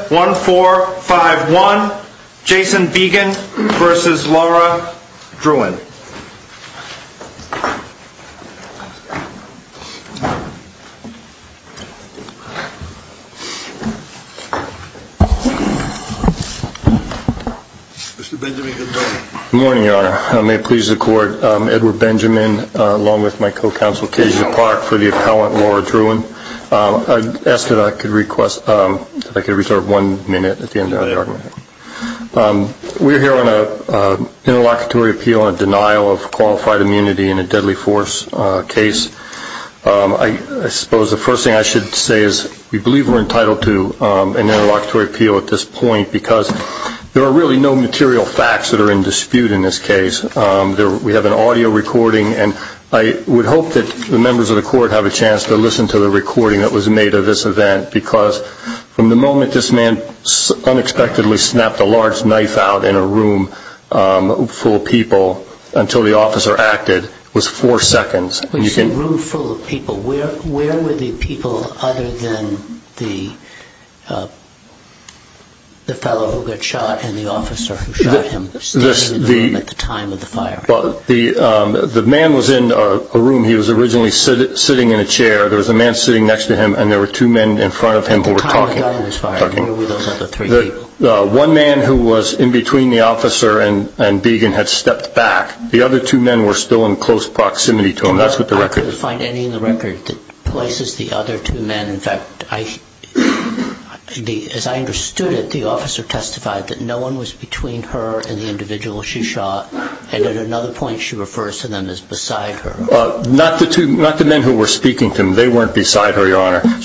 1-4-5-1, Jason Began v. Laura Drouin Good morning, Your Honor. May it please the Court, Edward Benjamin, along with my co-counsel, Kasia Park, for the appellant, Laura Drouin. We are here on an interlocutory appeal on a denial of qualified immunity in a deadly force case. I suppose the first thing I should say is we believe we are entitled to an interlocutory appeal at this point because there are really no material facts that are in dispute in this case. We have an audio recording and I would hope that the members of the Court have a recording that was made of this event because from the moment this man unexpectedly snapped a large knife out in a room full of people until the officer acted was four seconds. You said room full of people. Where were the people other than the fellow who got shot and the officer who shot him standing in the room at the time of the fire? The man was in a room. He was originally sitting in a chair. There was a man sitting next to him and there were two men in front of him who were talking. One man who was in between the officer and Began had stepped back. The other two men were still in close proximity to him. I couldn't find any in the record that places the other two men. In fact, as I understood it, the officer testified that no one was between her and the individual she shot and at another point she refers to them as beside her. Not the men who were speaking to him. They weren't beside her, Your Honor. At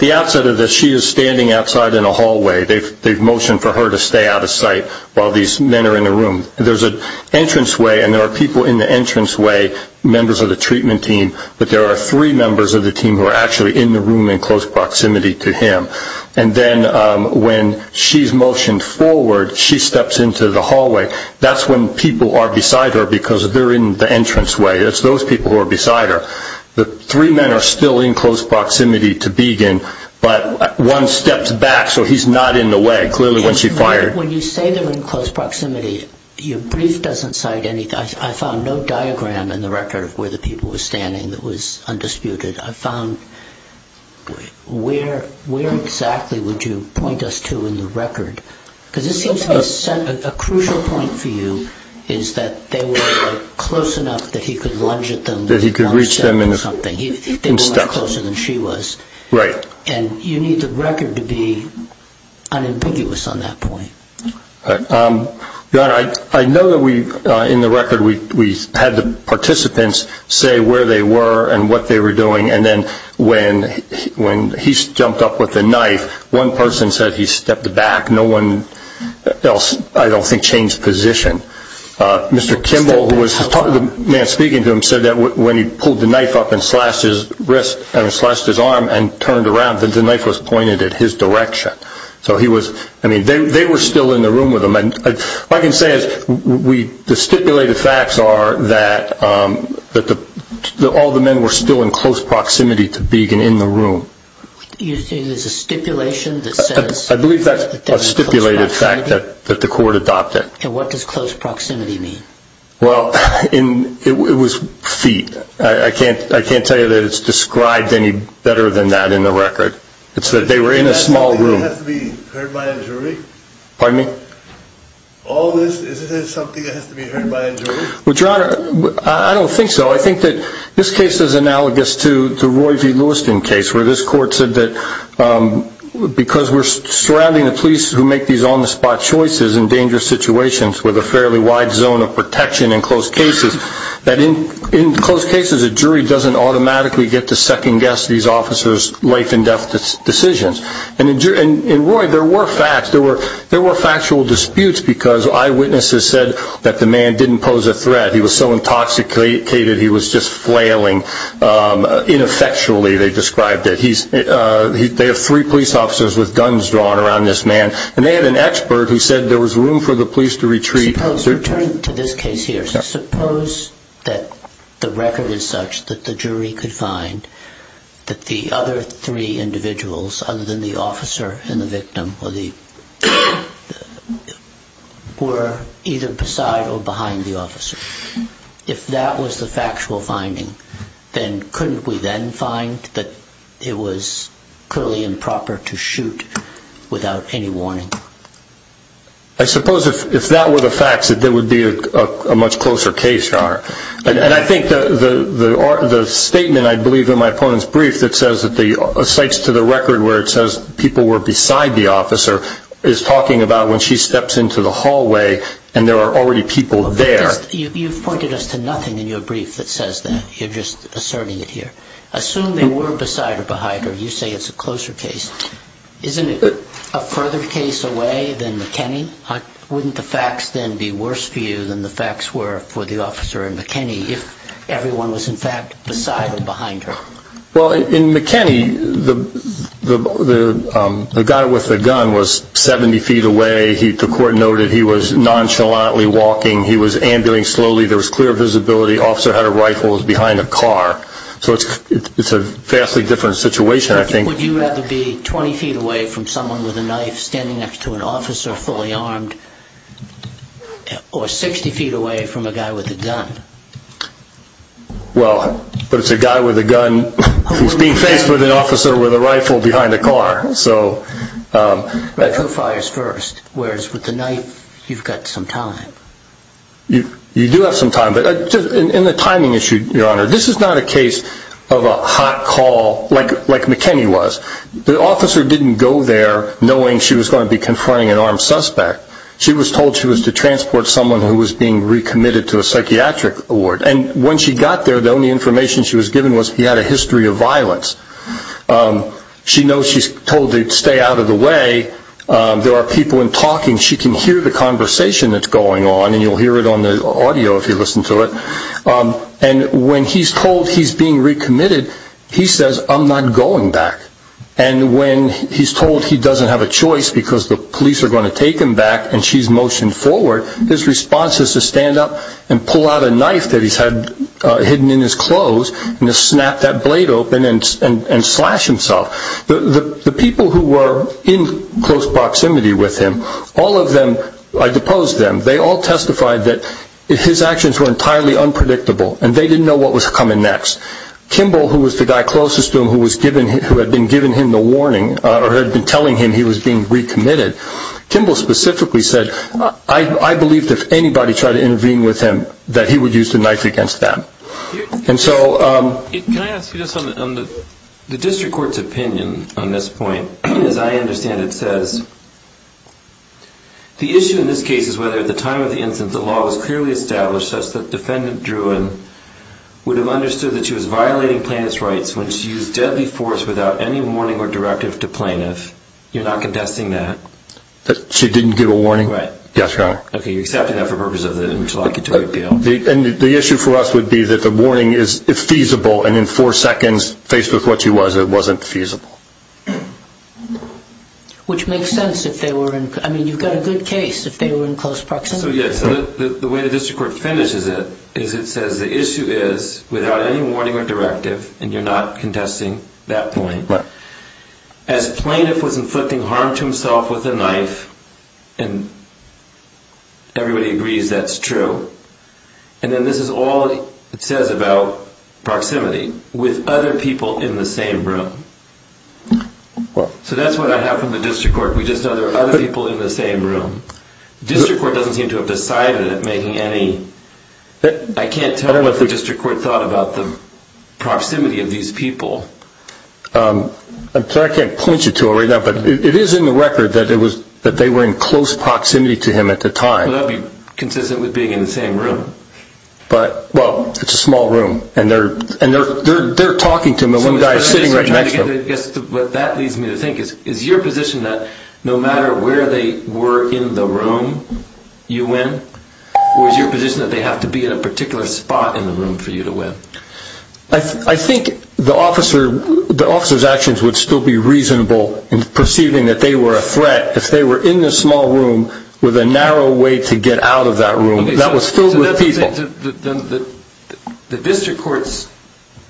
the outset of this, she is standing outside in a hallway. They've motioned for her to stay out of sight while these men are in the room. There's an entranceway and there are people in the entranceway, members of the treatment team, but there are three members of the team who are actually in the room in close proximity to him. And then when she's motioned forward, she steps into the hallway. That's when people are beside her because they're in the entranceway. It's those people who are beside her. The three men are still in close proximity to Began, but one steps back, so he's not in the way, clearly when she fired. When you say they're in close proximity, your brief doesn't cite anything. I found no diagram in the record of where the people were standing that was undisputed. I found, where exactly would you point us to in the record? Because this seems to be a crucial point for you, is that they were close enough that he could lunge at them. That he could reach them. They were much closer than she was. And you need the record to be unambiguous on that point. Your Honor, I know that in the record we had the participants say where they were and what they were doing, and then when he jumped up with the knife, one person said he stepped back. No one else, I don't think, changed position. Mr. Kimball, the man speaking to him, said that when he pulled the knife up and slashed his arm and turned around, that the knife was pointed at his direction. So he was, I mean, they were still in the room with him. What I can say is the stipulated facts are that all the men were still in close proximity to Beagin in the room. You're saying there's a stipulation that says... I believe that's a stipulated fact that the court adopted. And what does close proximity mean? Well, it was feet. I can't tell you that it's described any better than that in the record. It's that they were in a small room. Is that something that has to be heard by a jury? Pardon me? All this, is it something that has to be heard by a jury? Well, Your Honor, I don't think so. I think that this case is analogous to the Roy V. Lewiston case, where this court said that because we're surrounding the police who make these on-the-spot choices in dangerous situations with a fairly wide zone of protection in closed cases, that in closed cases, a jury doesn't automatically get to second-guess these officers' life-and-death decisions. And in Roy, there were facts. There were factual disputes because eyewitnesses said that the man didn't pose a threat. He was so intoxicated he was just flailing ineffectually, they described it. They have three police officers with guns drawn around this man. And they had an expert who said there was room for the police to retreat. Suppose, returning to this case here, suppose that the record is such that the jury could find that the other three individuals, other than the officer and the victim, or either beside or behind the officer. If that was the factual finding, then couldn't we then find that it was clearly improper to shoot without any warning? I suppose if that were the facts, that there would be a much closer case, Your Honor. And I think the statement, I believe, in my opponent's brief that says that the – cites to the record where it steps into the hallway, and there are already people there. You've pointed us to nothing in your brief that says that. You're just asserting it here. Assume they were beside or behind her. You say it's a closer case. Isn't it a further case away than McKinney? Wouldn't the facts then be worse for you than the facts were for the officer and McKinney if everyone was in fact beside or behind her? Well, in McKinney, the guy with the gun was 70 feet away. The court noted he was nonchalantly walking. He was ambulance slowly. There was clear visibility. The officer had a rifle behind a car. So it's a vastly different situation, I think. Would you rather be 20 feet away from someone with a knife standing next to an officer fully armed or 60 feet away from a guy with a gun? Well, but it's a guy with a gun who's being faced with an officer with a rifle behind a car. Right. Who fires first? Whereas with the knife, you've got some time. You do have some time, but in the timing issue, Your Honor, this is not a case of a hot call like McKinney was. The officer didn't go there knowing she was going to be confronting an armed suspect. She was told she was to transport someone who was being recommitted to a psychiatric ward. And when she got there, the only information she was given was he had a history of violence. She knows she's told to stay out of the way. There are people in talking. She can hear the conversation that's going on, and you'll hear it on the audio if you listen to it. And when he's told he's being recommitted, he says, I'm not going back. And when he's told he doesn't have a choice because the police are going to take him back and she's motioned forward, his response is to stand up and pull out a knife that he's had hidden in his clothes and to snap that blade open and slash himself. The people who were in close proximity with him, all of them, I deposed them. They all testified that his actions were entirely unpredictable, and they didn't know what was coming next. Kimball, who was the guy closest to him who had been giving him the warning or had been telling him he was being recommitted, Kimball specifically said, I believe that if anybody tried to intervene with him, that he would use the knife against them. Can I ask you this, on the district court's opinion on this point, as I understand it says, the issue in this case is whether at the time of the incident the law was clearly established such that defendant Druin would have understood that she was violating plaintiff's You're not contesting that? She didn't give a warning? Right. Yes, Your Honor. Okay, you're accepting that for the purpose of the interlocutory appeal. The issue for us would be that the warning is feasible and in four seconds, faced with what she was, it wasn't feasible. Which makes sense if they were in, I mean, you've got a good case if they were in close proximity. So yes, the way the district court finishes it is it says the issue is, without any warning or directive, and you're not contesting that point, as plaintiff was inflicting harm to himself with a knife, and everybody agrees that's true, and then this is all it says about proximity, with other people in the same room. So that's what I have from the district court, we just know there are other people in the same room. District court doesn't seem to have decided at making any, I can't tell what the district court thought about the proximity of these people. I'm sorry I can't point you to it right now, but it is in the record that they were in close proximity to him at the time. Well, that would be consistent with being in the same room. But well, it's a small room, and they're talking to him, and one guy is sitting right next to him. What that leads me to think is, is your position that no matter where they were in the room you went, or is your position that they have to be in a particular spot in the room for you to win? I think the officer's actions would still be reasonable in perceiving that they were a threat if they were in the small room with a narrow way to get out of that room that was filled with people. The district court's,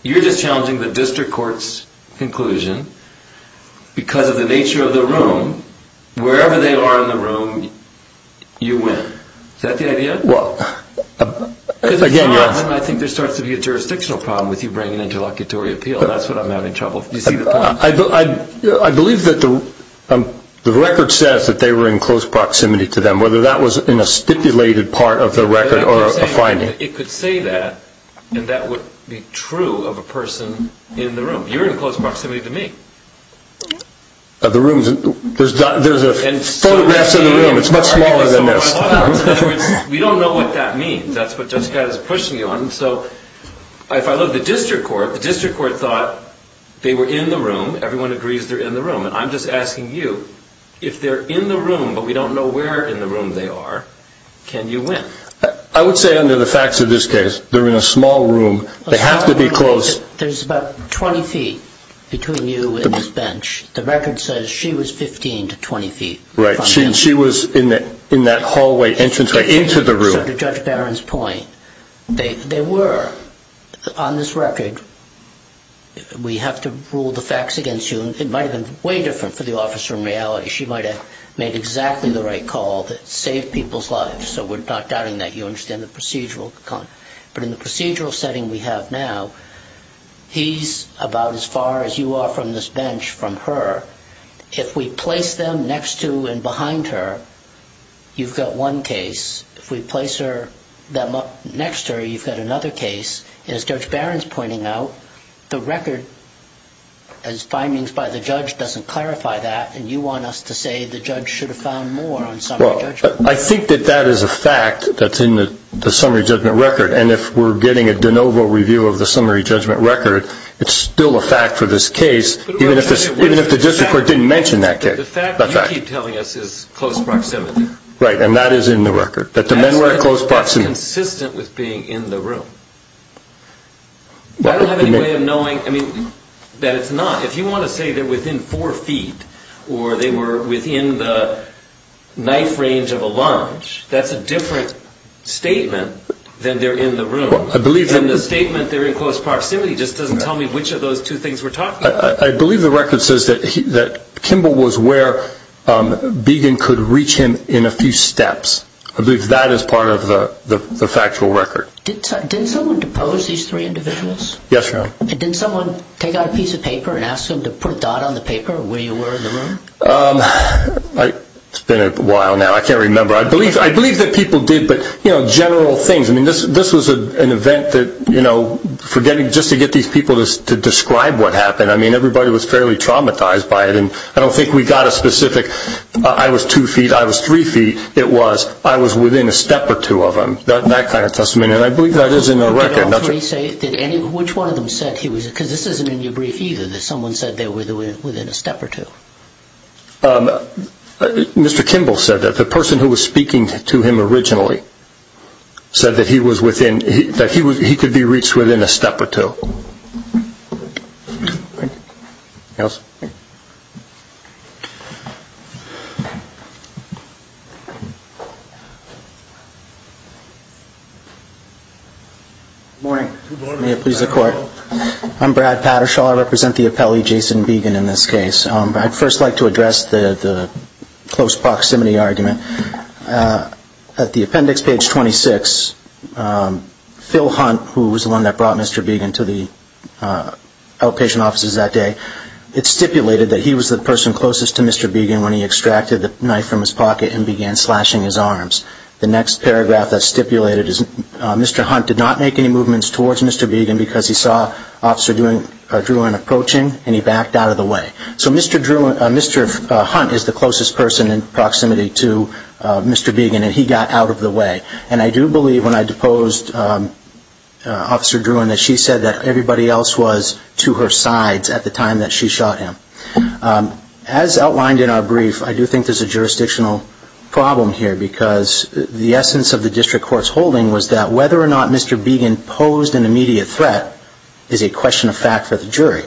you're just challenging the district court's conclusion, because of the nature of the room, wherever they are in the room, you win, is that the idea? Well, again, you're... Because if not, then I think there starts to be a jurisdictional problem with you bringing interlocutory appeal. That's what I'm having trouble, do you see the point? I believe that the record says that they were in close proximity to them, whether that was in a stipulated part of the record or a finding. It could say that, and that would be true of a person in the room. You're in close proximity to me. The room's, there's photographs in the room, it's much smaller than this. In other words, we don't know what that means, that's what Judge Scott is pushing you on, so if I look at the district court, the district court thought they were in the room, everyone agrees they're in the room, and I'm just asking you, if they're in the room, but we don't know where in the room they are, can you win? I would say under the facts of this case, they're in a small room, they have to be close. There's about 20 feet between you and this bench, the record says she was 15 to 20 feet. Right, she was in that hallway entranceway into the room. To Judge Barron's point, they were, on this record, we have to rule the facts against you, it might have been way different for the officer in reality, she might have made exactly the right call that saved people's lives, so we're not doubting that you understand the procedural, but in the procedural setting we have now, he's about as far as you are from this bench from her, if we place them next to and behind her, you've got one case, if we place them next to her, you've got another case, and as Judge Barron's pointing out, the record, as findings by the judge, doesn't clarify that, and you want us to say the judge should have found more on summary judgment. I think that that is a fact that's in the summary judgment record, and if we're getting a de novo review of the summary judgment record, it's still a fact for this case, even if the district court didn't mention that case. The fact that you keep telling us is close proximity. Right, and that is in the record, that the men were close proximity. That's consistent with being in the room. I don't have any way of knowing, I mean, that it's not, if you want to say they're within four feet, or they were within the knife range of a lunge, that's a different statement than they're in the room. In the statement, they're in close proximity, it just doesn't tell me which of those two things we're talking about. I believe the record says that Kimball was where Beagin could reach him in a few steps. I believe that is part of the factual record. Did someone depose these three individuals? Yes, Your Honor. Did someone take out a piece of paper and ask them to put a dot on the paper where you were in the room? It's been a while now, I can't remember. I believe that people did, but general things, I mean, this was an event that, you know, just to get these people to describe what happened, I mean, everybody was fairly traumatized by it. I don't think we got a specific, I was two feet, I was three feet, it was, I was within a step or two of them, that kind of testimony, and I believe that is in the record. Which one of them said, because this isn't in your brief either, that someone said they were within a step or two? Mr. Kimball said that. The person who was speaking to him originally said that he was within, that he could be reached within a step or two. Good morning. May it please the Court. I'm Brad Pattershaw. I represent the appellee, Jason Beagin, in this case. I'd first like to address the close proximity argument. At the appendix, page 26, Phil Hunt, who was the one that brought Mr. Beagin to the outpatient offices that day, it stipulated that he was the person closest to Mr. Beagin when he extracted the knife from his pocket and began slashing his arms. The next paragraph that's stipulated is, Mr. Hunt did not make any movements towards Mr. Beagin because he saw Officer Drewin approaching and he backed out of the way. So Mr. Hunt is the closest person in proximity to Mr. Beagin and he got out of the way. And I do believe when I deposed Officer Drewin that she said that everybody else was to her sides at the time that she shot him. As outlined in our brief, I do think there's a jurisdictional problem here because the essence of the District Court's holding was that whether or not Mr. Beagin posed an immediate threat is a question of fact for the jury.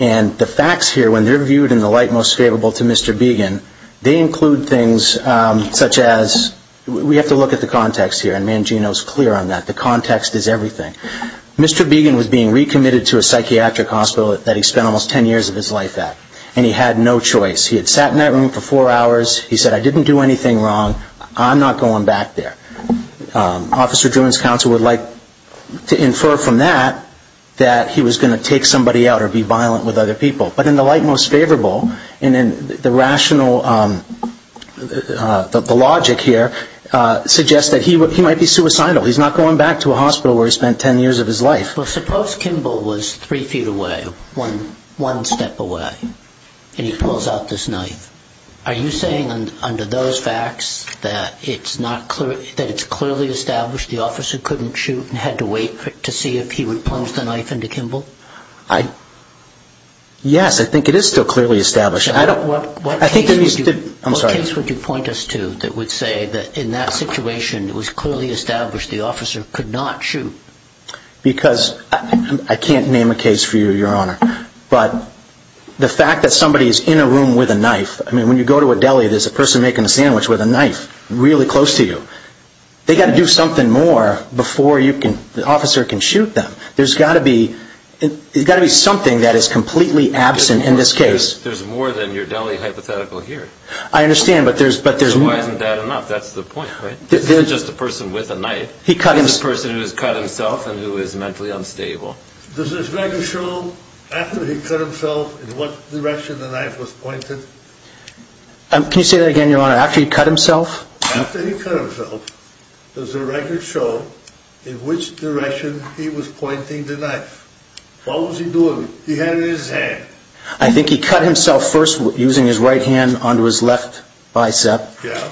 And the facts here, when they're viewed in the light most favorable to Mr. Beagin, they include things such as, we have to look at the context here and Mangino is clear on that, the context is everything. Mr. Beagin was being recommitted to a psychiatric hospital that he spent almost ten years of his life at and he had no choice. He had sat in that room for four hours, he said, I didn't do anything wrong, I'm not going back there. Officer Drewin's counsel would like to infer from that that he was going to take somebody out or be violent with other people. But in the light most favorable, the logic here suggests that he might be suicidal. He's not going back to a hospital where he spent ten years of his life. Suppose Kimball was three feet away, one step away, and he pulls out this knife. Are you saying under those facts that it's clearly established the officer couldn't shoot and had to wait to see if he would plunge the knife into Kimball? Yes, I think it is still clearly established. What case would you point us to that would say that in that situation it was clearly established the officer could not shoot? Because, I can't name a case for you, Your Honor, but the fact that somebody is in a room with a knife, I mean when you go to a deli there's a person making a sandwich with a knife really close to you. They've got to do something more before the officer can shoot them. There's got to be something that is completely absent in this case. There's more than your deli hypothetical here. I understand, but there's... So why isn't that enough? That's the point, right? This isn't just a person with a knife. This is a person who has cut himself and who is mentally unstable. Does this record show after he cut himself in what direction the knife was pointed? Can you say that again, Your Honor? After he cut himself? After he cut himself, does the record show in which direction he was pointing the knife? What was he doing? He had it in his hand. I think he cut himself first using his right hand onto his left bicep,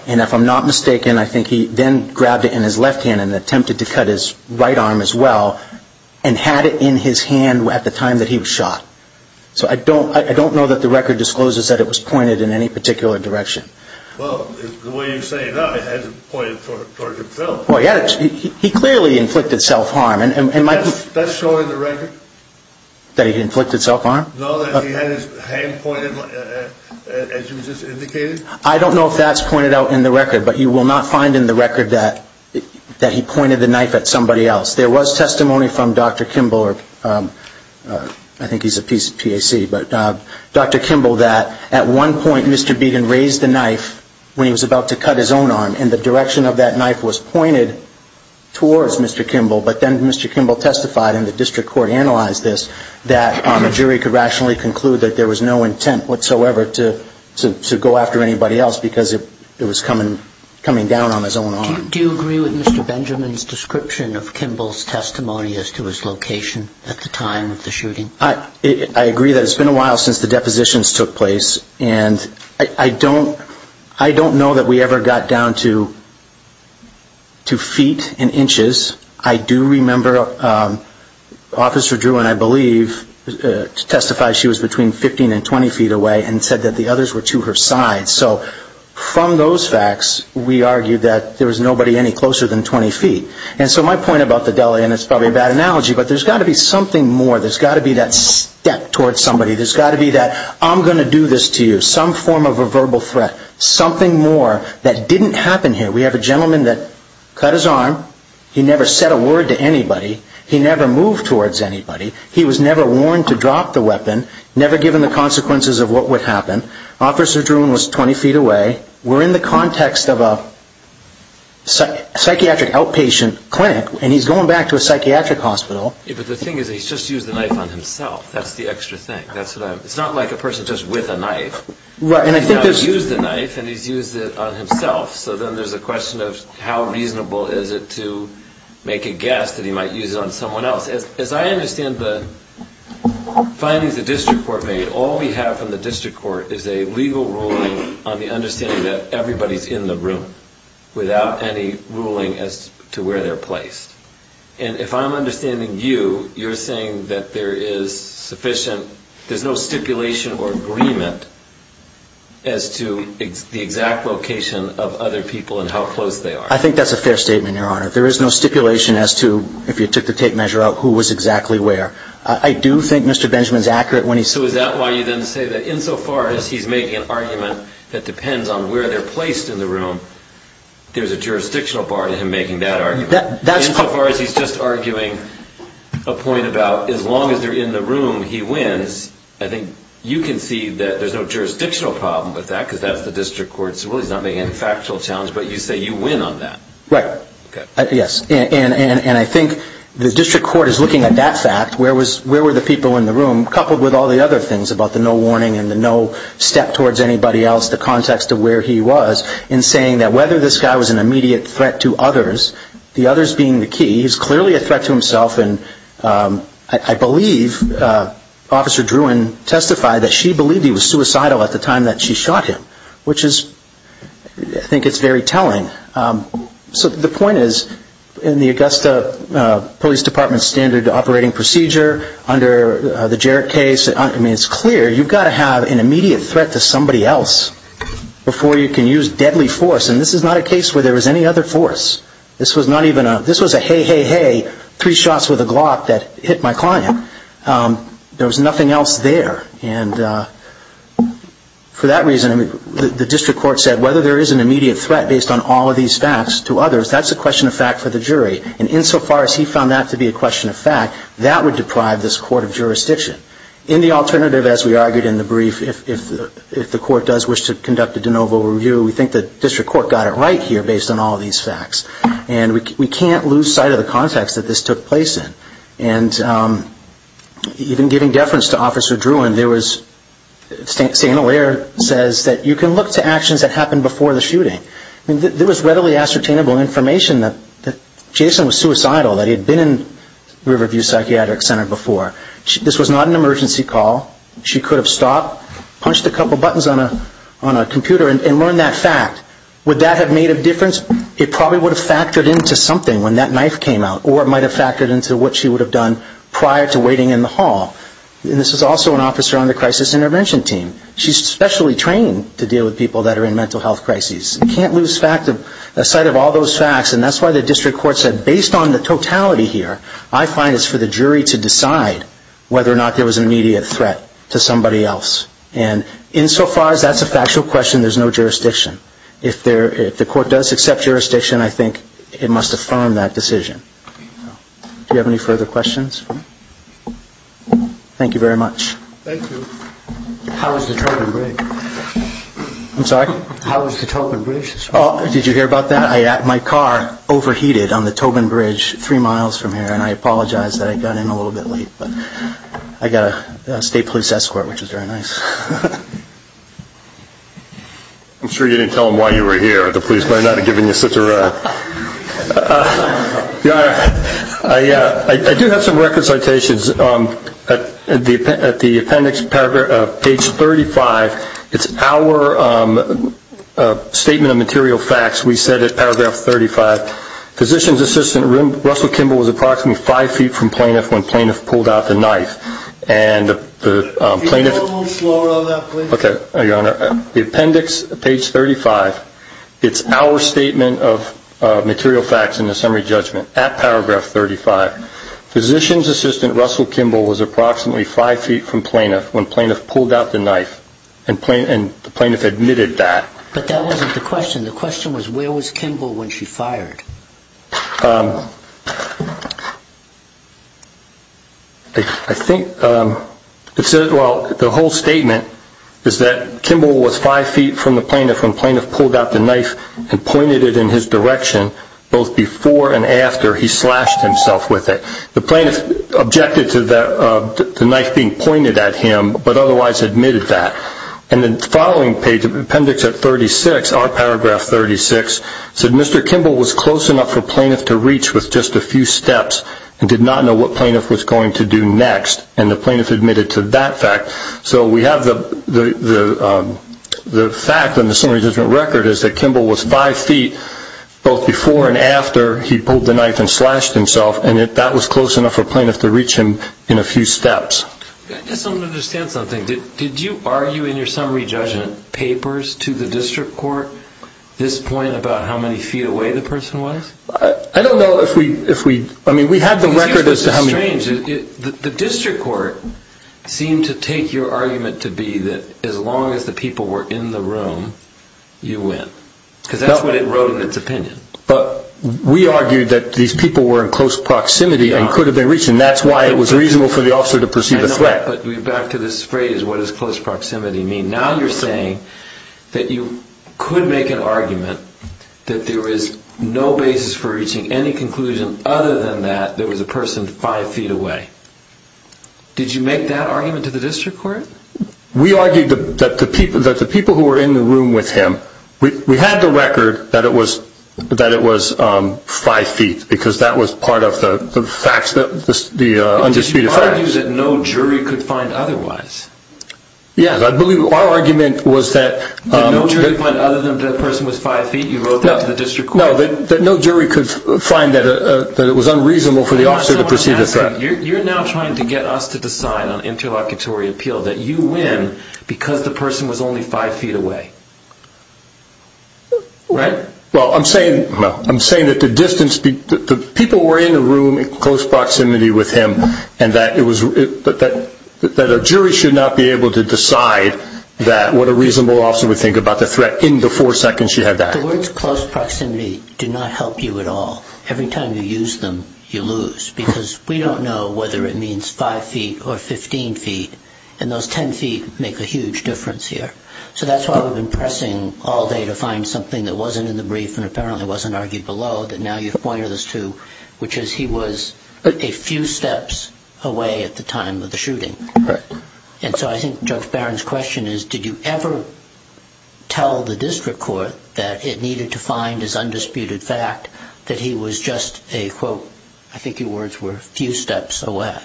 and if I'm not mistaken I think he then grabbed it in his left hand and attempted to cut his right arm as well and had it in his hand at the time that he was shot. So I don't know that the record discloses that it was pointed in any particular direction. Well, the way you say it now, it hasn't pointed toward himself. He clearly inflicted self-harm. That's shown in the record? That he inflicted self-harm? No, that he had his hand pointed as you just indicated? I don't know if that's pointed out in the record, but you will not find in the record that he pointed the knife at somebody else. There was testimony from Dr. Kimball, I think he's a PAC, Dr. Kimball that at one point Mr. Beaton raised the knife when he was about to cut his own arm and the direction of that knife was pointed towards Mr. Kimball, but then Mr. Kimball testified and the district court analyzed this that a jury could rationally conclude that there was no intent whatsoever to go after anybody else because it was coming down on his own arm. Do you agree with Mr. Benjamin's description of Kimball's testimony as to his location at the time of the shooting? I agree that it's been a while since the depositions took place and I don't know that we ever got down to feet and inches. I do remember Officer Drew and I believe testified she was between 15 and 20 feet away and said that the others were to her side. So from those facts, we argue that there was nobody any closer than 20 feet. And so my point about the deli, and it's probably a bad analogy, but there's got to be something more. There's got to be that step towards somebody. There's got to be that I'm going to do this to you. Some form of a verbal threat. Something more that didn't happen here. We have a gentleman that cut his arm. He never said a word to anybody. He never moved towards anybody. He was never warned to drop the weapon. Never given the consequences of what would happen. Officer Drew was 20 feet away. We're in the context of a psychiatric outpatient clinic and he's going back to a psychiatric hospital. But the thing is he's just used the knife on himself. That's the extra thing. It's not like a person just with a knife. He's not used a knife and he's used it on himself. So then there's a question of how reasonable is it to make a guess that he might use it on someone else. As I understand the findings the district court made, all we have from the district court is a legal ruling on the understanding that everybody's in the room without any ruling as to where they're placed. And if I'm understanding you, you're saying that there is sufficient, there's no stipulation or agreement as to the exact location of other people and how close they are. I think that's a fair statement, Your Honor. There is no stipulation as to, if you took the tape measure out, who was exactly where. I do think Mr. Benjamin's accurate when he says... So is that why you then say that insofar as he's making an argument that depends on where they're placed in the room, there's a jurisdictional bar to him making that argument? Insofar as he's just arguing a point about as long as they're in the room, he wins. I think you can see that there's no jurisdictional problem with that because that's the district court's ruling. He's not making any factual challenge, but you say you win on that. Right. Yes. And I think the district court is looking at that fact, where were the people in the room, coupled with all the other things about the no warning and the no step towards anybody else, the context of where he was, in saying that whether this guy was an immediate threat to others, the others being the key, he's clearly a threat to himself, and I believe Officer Druin testified that she believed he was suicidal at the time that she shot him, which is, I think it's very telling. So the point is, in the Augusta Police Department's standard operating procedure, under the Jarrett case, it's clear you've got to have an immediate threat to somebody else before you can use deadly force, and this is not a case where there was any other force. This was a hey, hey, hey, three shots with a Glock that hit my client. There was nothing else there. And for that reason, the district court said whether there is an immediate threat based on all of these facts to others, that's a question of fact for the jury. And insofar as he found that to be a question of fact, that would deprive this court of jurisdiction. In the alternative, as we argued in the brief, if the court does wish to conduct a de novo review, we think the district court got it right here based on all of these facts. And we can't lose sight of the context that this took place in. And even giving deference to Officer Druin, there was, Stena Ware says that you can look to actions that happened before the shooting. There was readily ascertainable information that Jason was suicidal, that he had been in Riverview Psychiatric Center before. This was not an emergency call. She could have stopped, punched a couple buttons on a computer and learned that fact. Would that have made a difference? It probably would have factored into something when that knife came out. Or it might have factored into what she would have done prior to waiting in the hall. And this is also an officer on the crisis intervention team. She's specially trained to deal with people that are in mental health crises. You can't lose sight of all those facts and that's why the district court said based on the totality here, I find it's for the jury to decide whether or not there was an immediate threat to somebody else. And insofar as that's a factual question, there's no jurisdiction. If the court does accept jurisdiction, I think it must affirm that decision. Do you have any further questions? Thank you very much. Thank you. How was the token break? I'm sorry? How was the Tobin Bridge? Did you hear about that? My car overheated on the Tobin Bridge three miles from here and I apologize that I got in a little bit late. I got a state police escort which was very nice. I'm sure you didn't tell them why you were here. The police might not have given you such a run. I do have some record citations at the appendix page 35 it's our statement of material facts we said at paragraph 35 physician's assistant Russell Kimball was approximately five feet from plaintiff when plaintiff pulled out the knife and the plaintiff The appendix page 35 it's our statement of material facts in the summary judgment at paragraph 35 physician's assistant Russell Kimball was approximately five feet from plaintiff when plaintiff pulled out the knife and the plaintiff admitted that But that wasn't the question the question was where was Kimball when she fired? I think the whole statement is that Kimball was five feet from the plaintiff when plaintiff pulled out the knife and pointed it in his direction both before and after he slashed himself with it the plaintiff objected to the knife being pointed at him but otherwise admitted that and the following page appendix 36 our paragraph 36 Mr. Kimball was close enough for plaintiff to reach with just a few steps and did not know what plaintiff was going to do next and the plaintiff admitted to that fact so we have the fact in the summary judgment record is that Kimball was five feet both before and after he pulled the knife and slashed himself and that was close enough for plaintiff to reach him in a few steps I just don't understand something did you argue in your summary judgment papers to the district court this point about how many feet away the person was? I don't know if we we had the record the district court seemed to take your argument to be that as long as the people were in the room you win because that's what it wrote in its opinion but we argued that these people were in close proximity and could have been reached and that's why it was reasonable for the officer to pursue the threat back to this phrase what does close proximity mean now you're saying that you could make an argument that there is no basis for reaching any conclusion other than that there was a person five feet away did you make that argument to the district court? we argued that the people who were in the room with him we had the record that it was five feet because that was part of the fact did you argue that no jury could find otherwise? yes our argument was that that no jury could find other than that person was five feet you wrote that to the district court that no jury could find that it was unreasonable for the officer to pursue the threat you're now trying to get us to decide on interlocutory appeal that you win because the person was only five feet away right? well I'm saying that the distance the people who were in the room in close proximity with him that a jury should not be able to decide that what a reasonable officer would think about the threat in the four seconds she had that the words close proximity do not help you at all every time you use them you lose because we don't know whether it means five feet or fifteen feet and those ten feet make a huge difference here so that's why we've been pressing all day to find something that wasn't in the brief and apparently wasn't argued below that now you point us to which is he was a few steps away at the time of the shooting and so I think Judge Barron's question is did you ever tell the district court that it needed to find his undisputed fact that he was just a I think your words were few steps away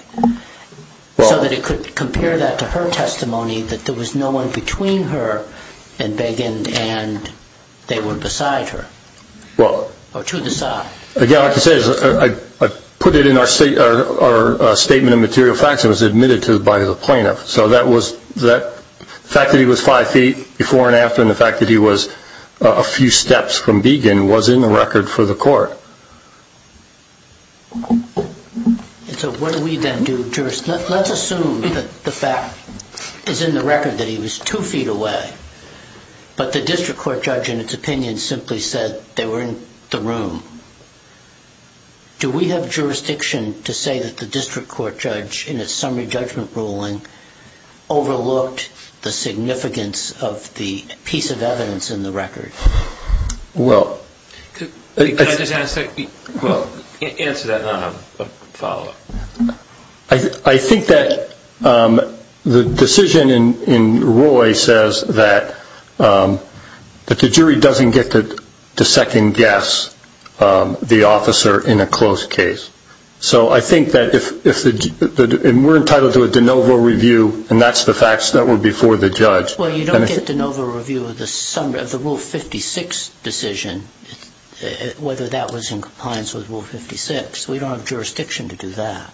so that it could compare that to her testimony that there was no one between her and Begin and they were beside her or to the side again what I can say is I put it in our statement of material facts and it was admitted to by the plaintiff so that was the fact that he was five feet before and after and the fact that he was a few steps from Begin was in the record for the court so what do we then do let's assume that the fact is in the record that he was two feet away but the district court judge in its opinion simply said they were in the room do we have jurisdiction to say that the district court judge in its summary judgment ruling overlooked the significance of the piece of evidence in the record well answer that follow up I think that the decision in Roy says that that the jury doesn't get to second guess the officer in a closed case so I think that we're entitled to a de novo review and that's the facts that were before the judge well you don't get de novo review of the rule 56 decision whether that was in compliance with rule 56 we don't have jurisdiction to do that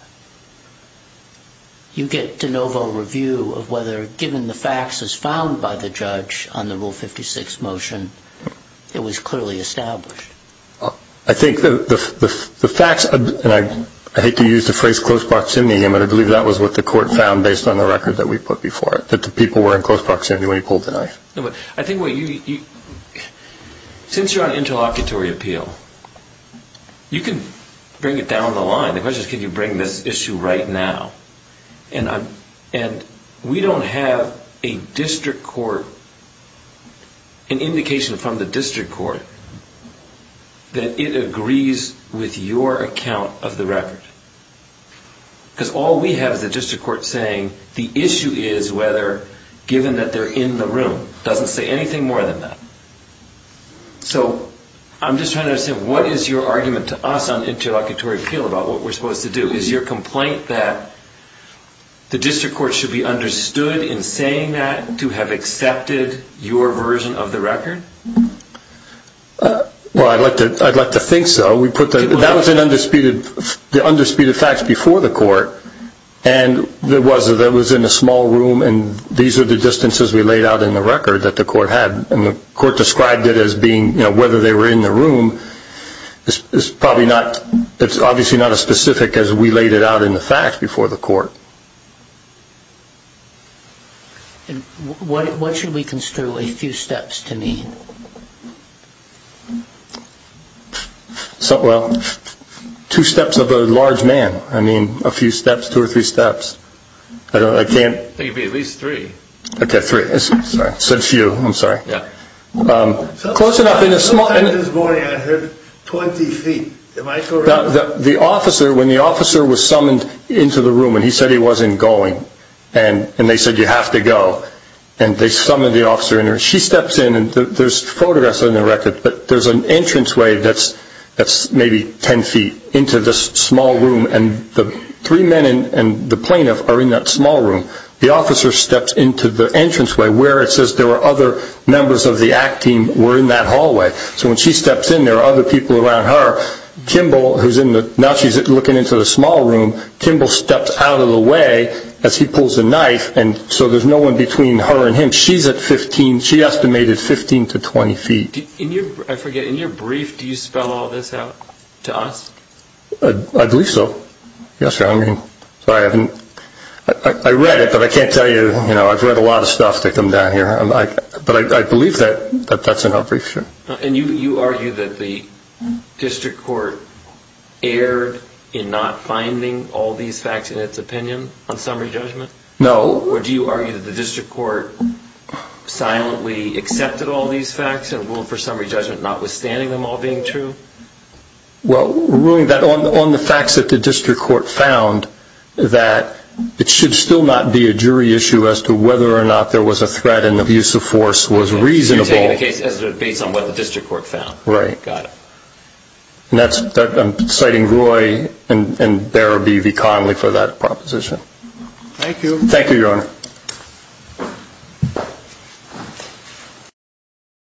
you get de novo review of whether given the facts found by the judge on the rule 56 motion it was clearly established I think the facts and I hate to use the phrase close proximity again but I believe that was what the court found based on the record that we put before it that the people were in close proximity when he pulled the knife I think what you since you're on interlocutory appeal you can bring it down the line the question is can you bring this issue right now and I'm we don't have a district court an indication from the district court that it agrees with your account of the record because all we have is the district court saying the issue is whether given that they're in the room it doesn't say anything more than that so I'm just trying to understand what is your argument to us on interlocutory appeal about what we're supposed to do is your complaint that the district court should be understood in saying that to have accepted your version of the record well I'd like to think so that was an undisputed fact before the court and it was in a small room and these are the distances we laid out in the record that the court had and the court described it as being whether they were in the room it's probably not it's obviously not as specific as we laid it out in the fact before the court what should we construe a few steps to need so well two steps of a large man I mean a few steps two or three steps I can't at least three close enough this morning I heard 20 feet the officer when the officer was summoned into the room and he said he wasn't going and they said you have to go and they summoned the officer she steps in and there's photographs in the record but there's an entrance way that's maybe 10 feet into this small room and the three men and the plaintiff are in that small room the officer steps into the entrance way where it says there were other members of the ACT team were in that hallway so when she steps in there are other people around her Kimball who's in the now she's looking into the small room Kimball steps out of the way as he pulls a knife so there's no one between her and him she estimated 15 to 20 feet I forget in your brief do you spell all this out to us I believe so I read it but I can't tell you I've read a lot of stuff but I believe that's in our brief and you argue that the district court erred in not finding all these facts in its opinion on summary judgment or do you argue that the district court silently accepted all these facts and ruled for summary judgment notwithstanding them all being true well ruling that on the facts that the district court found that it should still not be a jury issue as to whether or not there was a threat and the use of force was reasonable based on what the district court found and that's I'm citing Roy and Darabee V Conley for that proposition thank you thank you your honor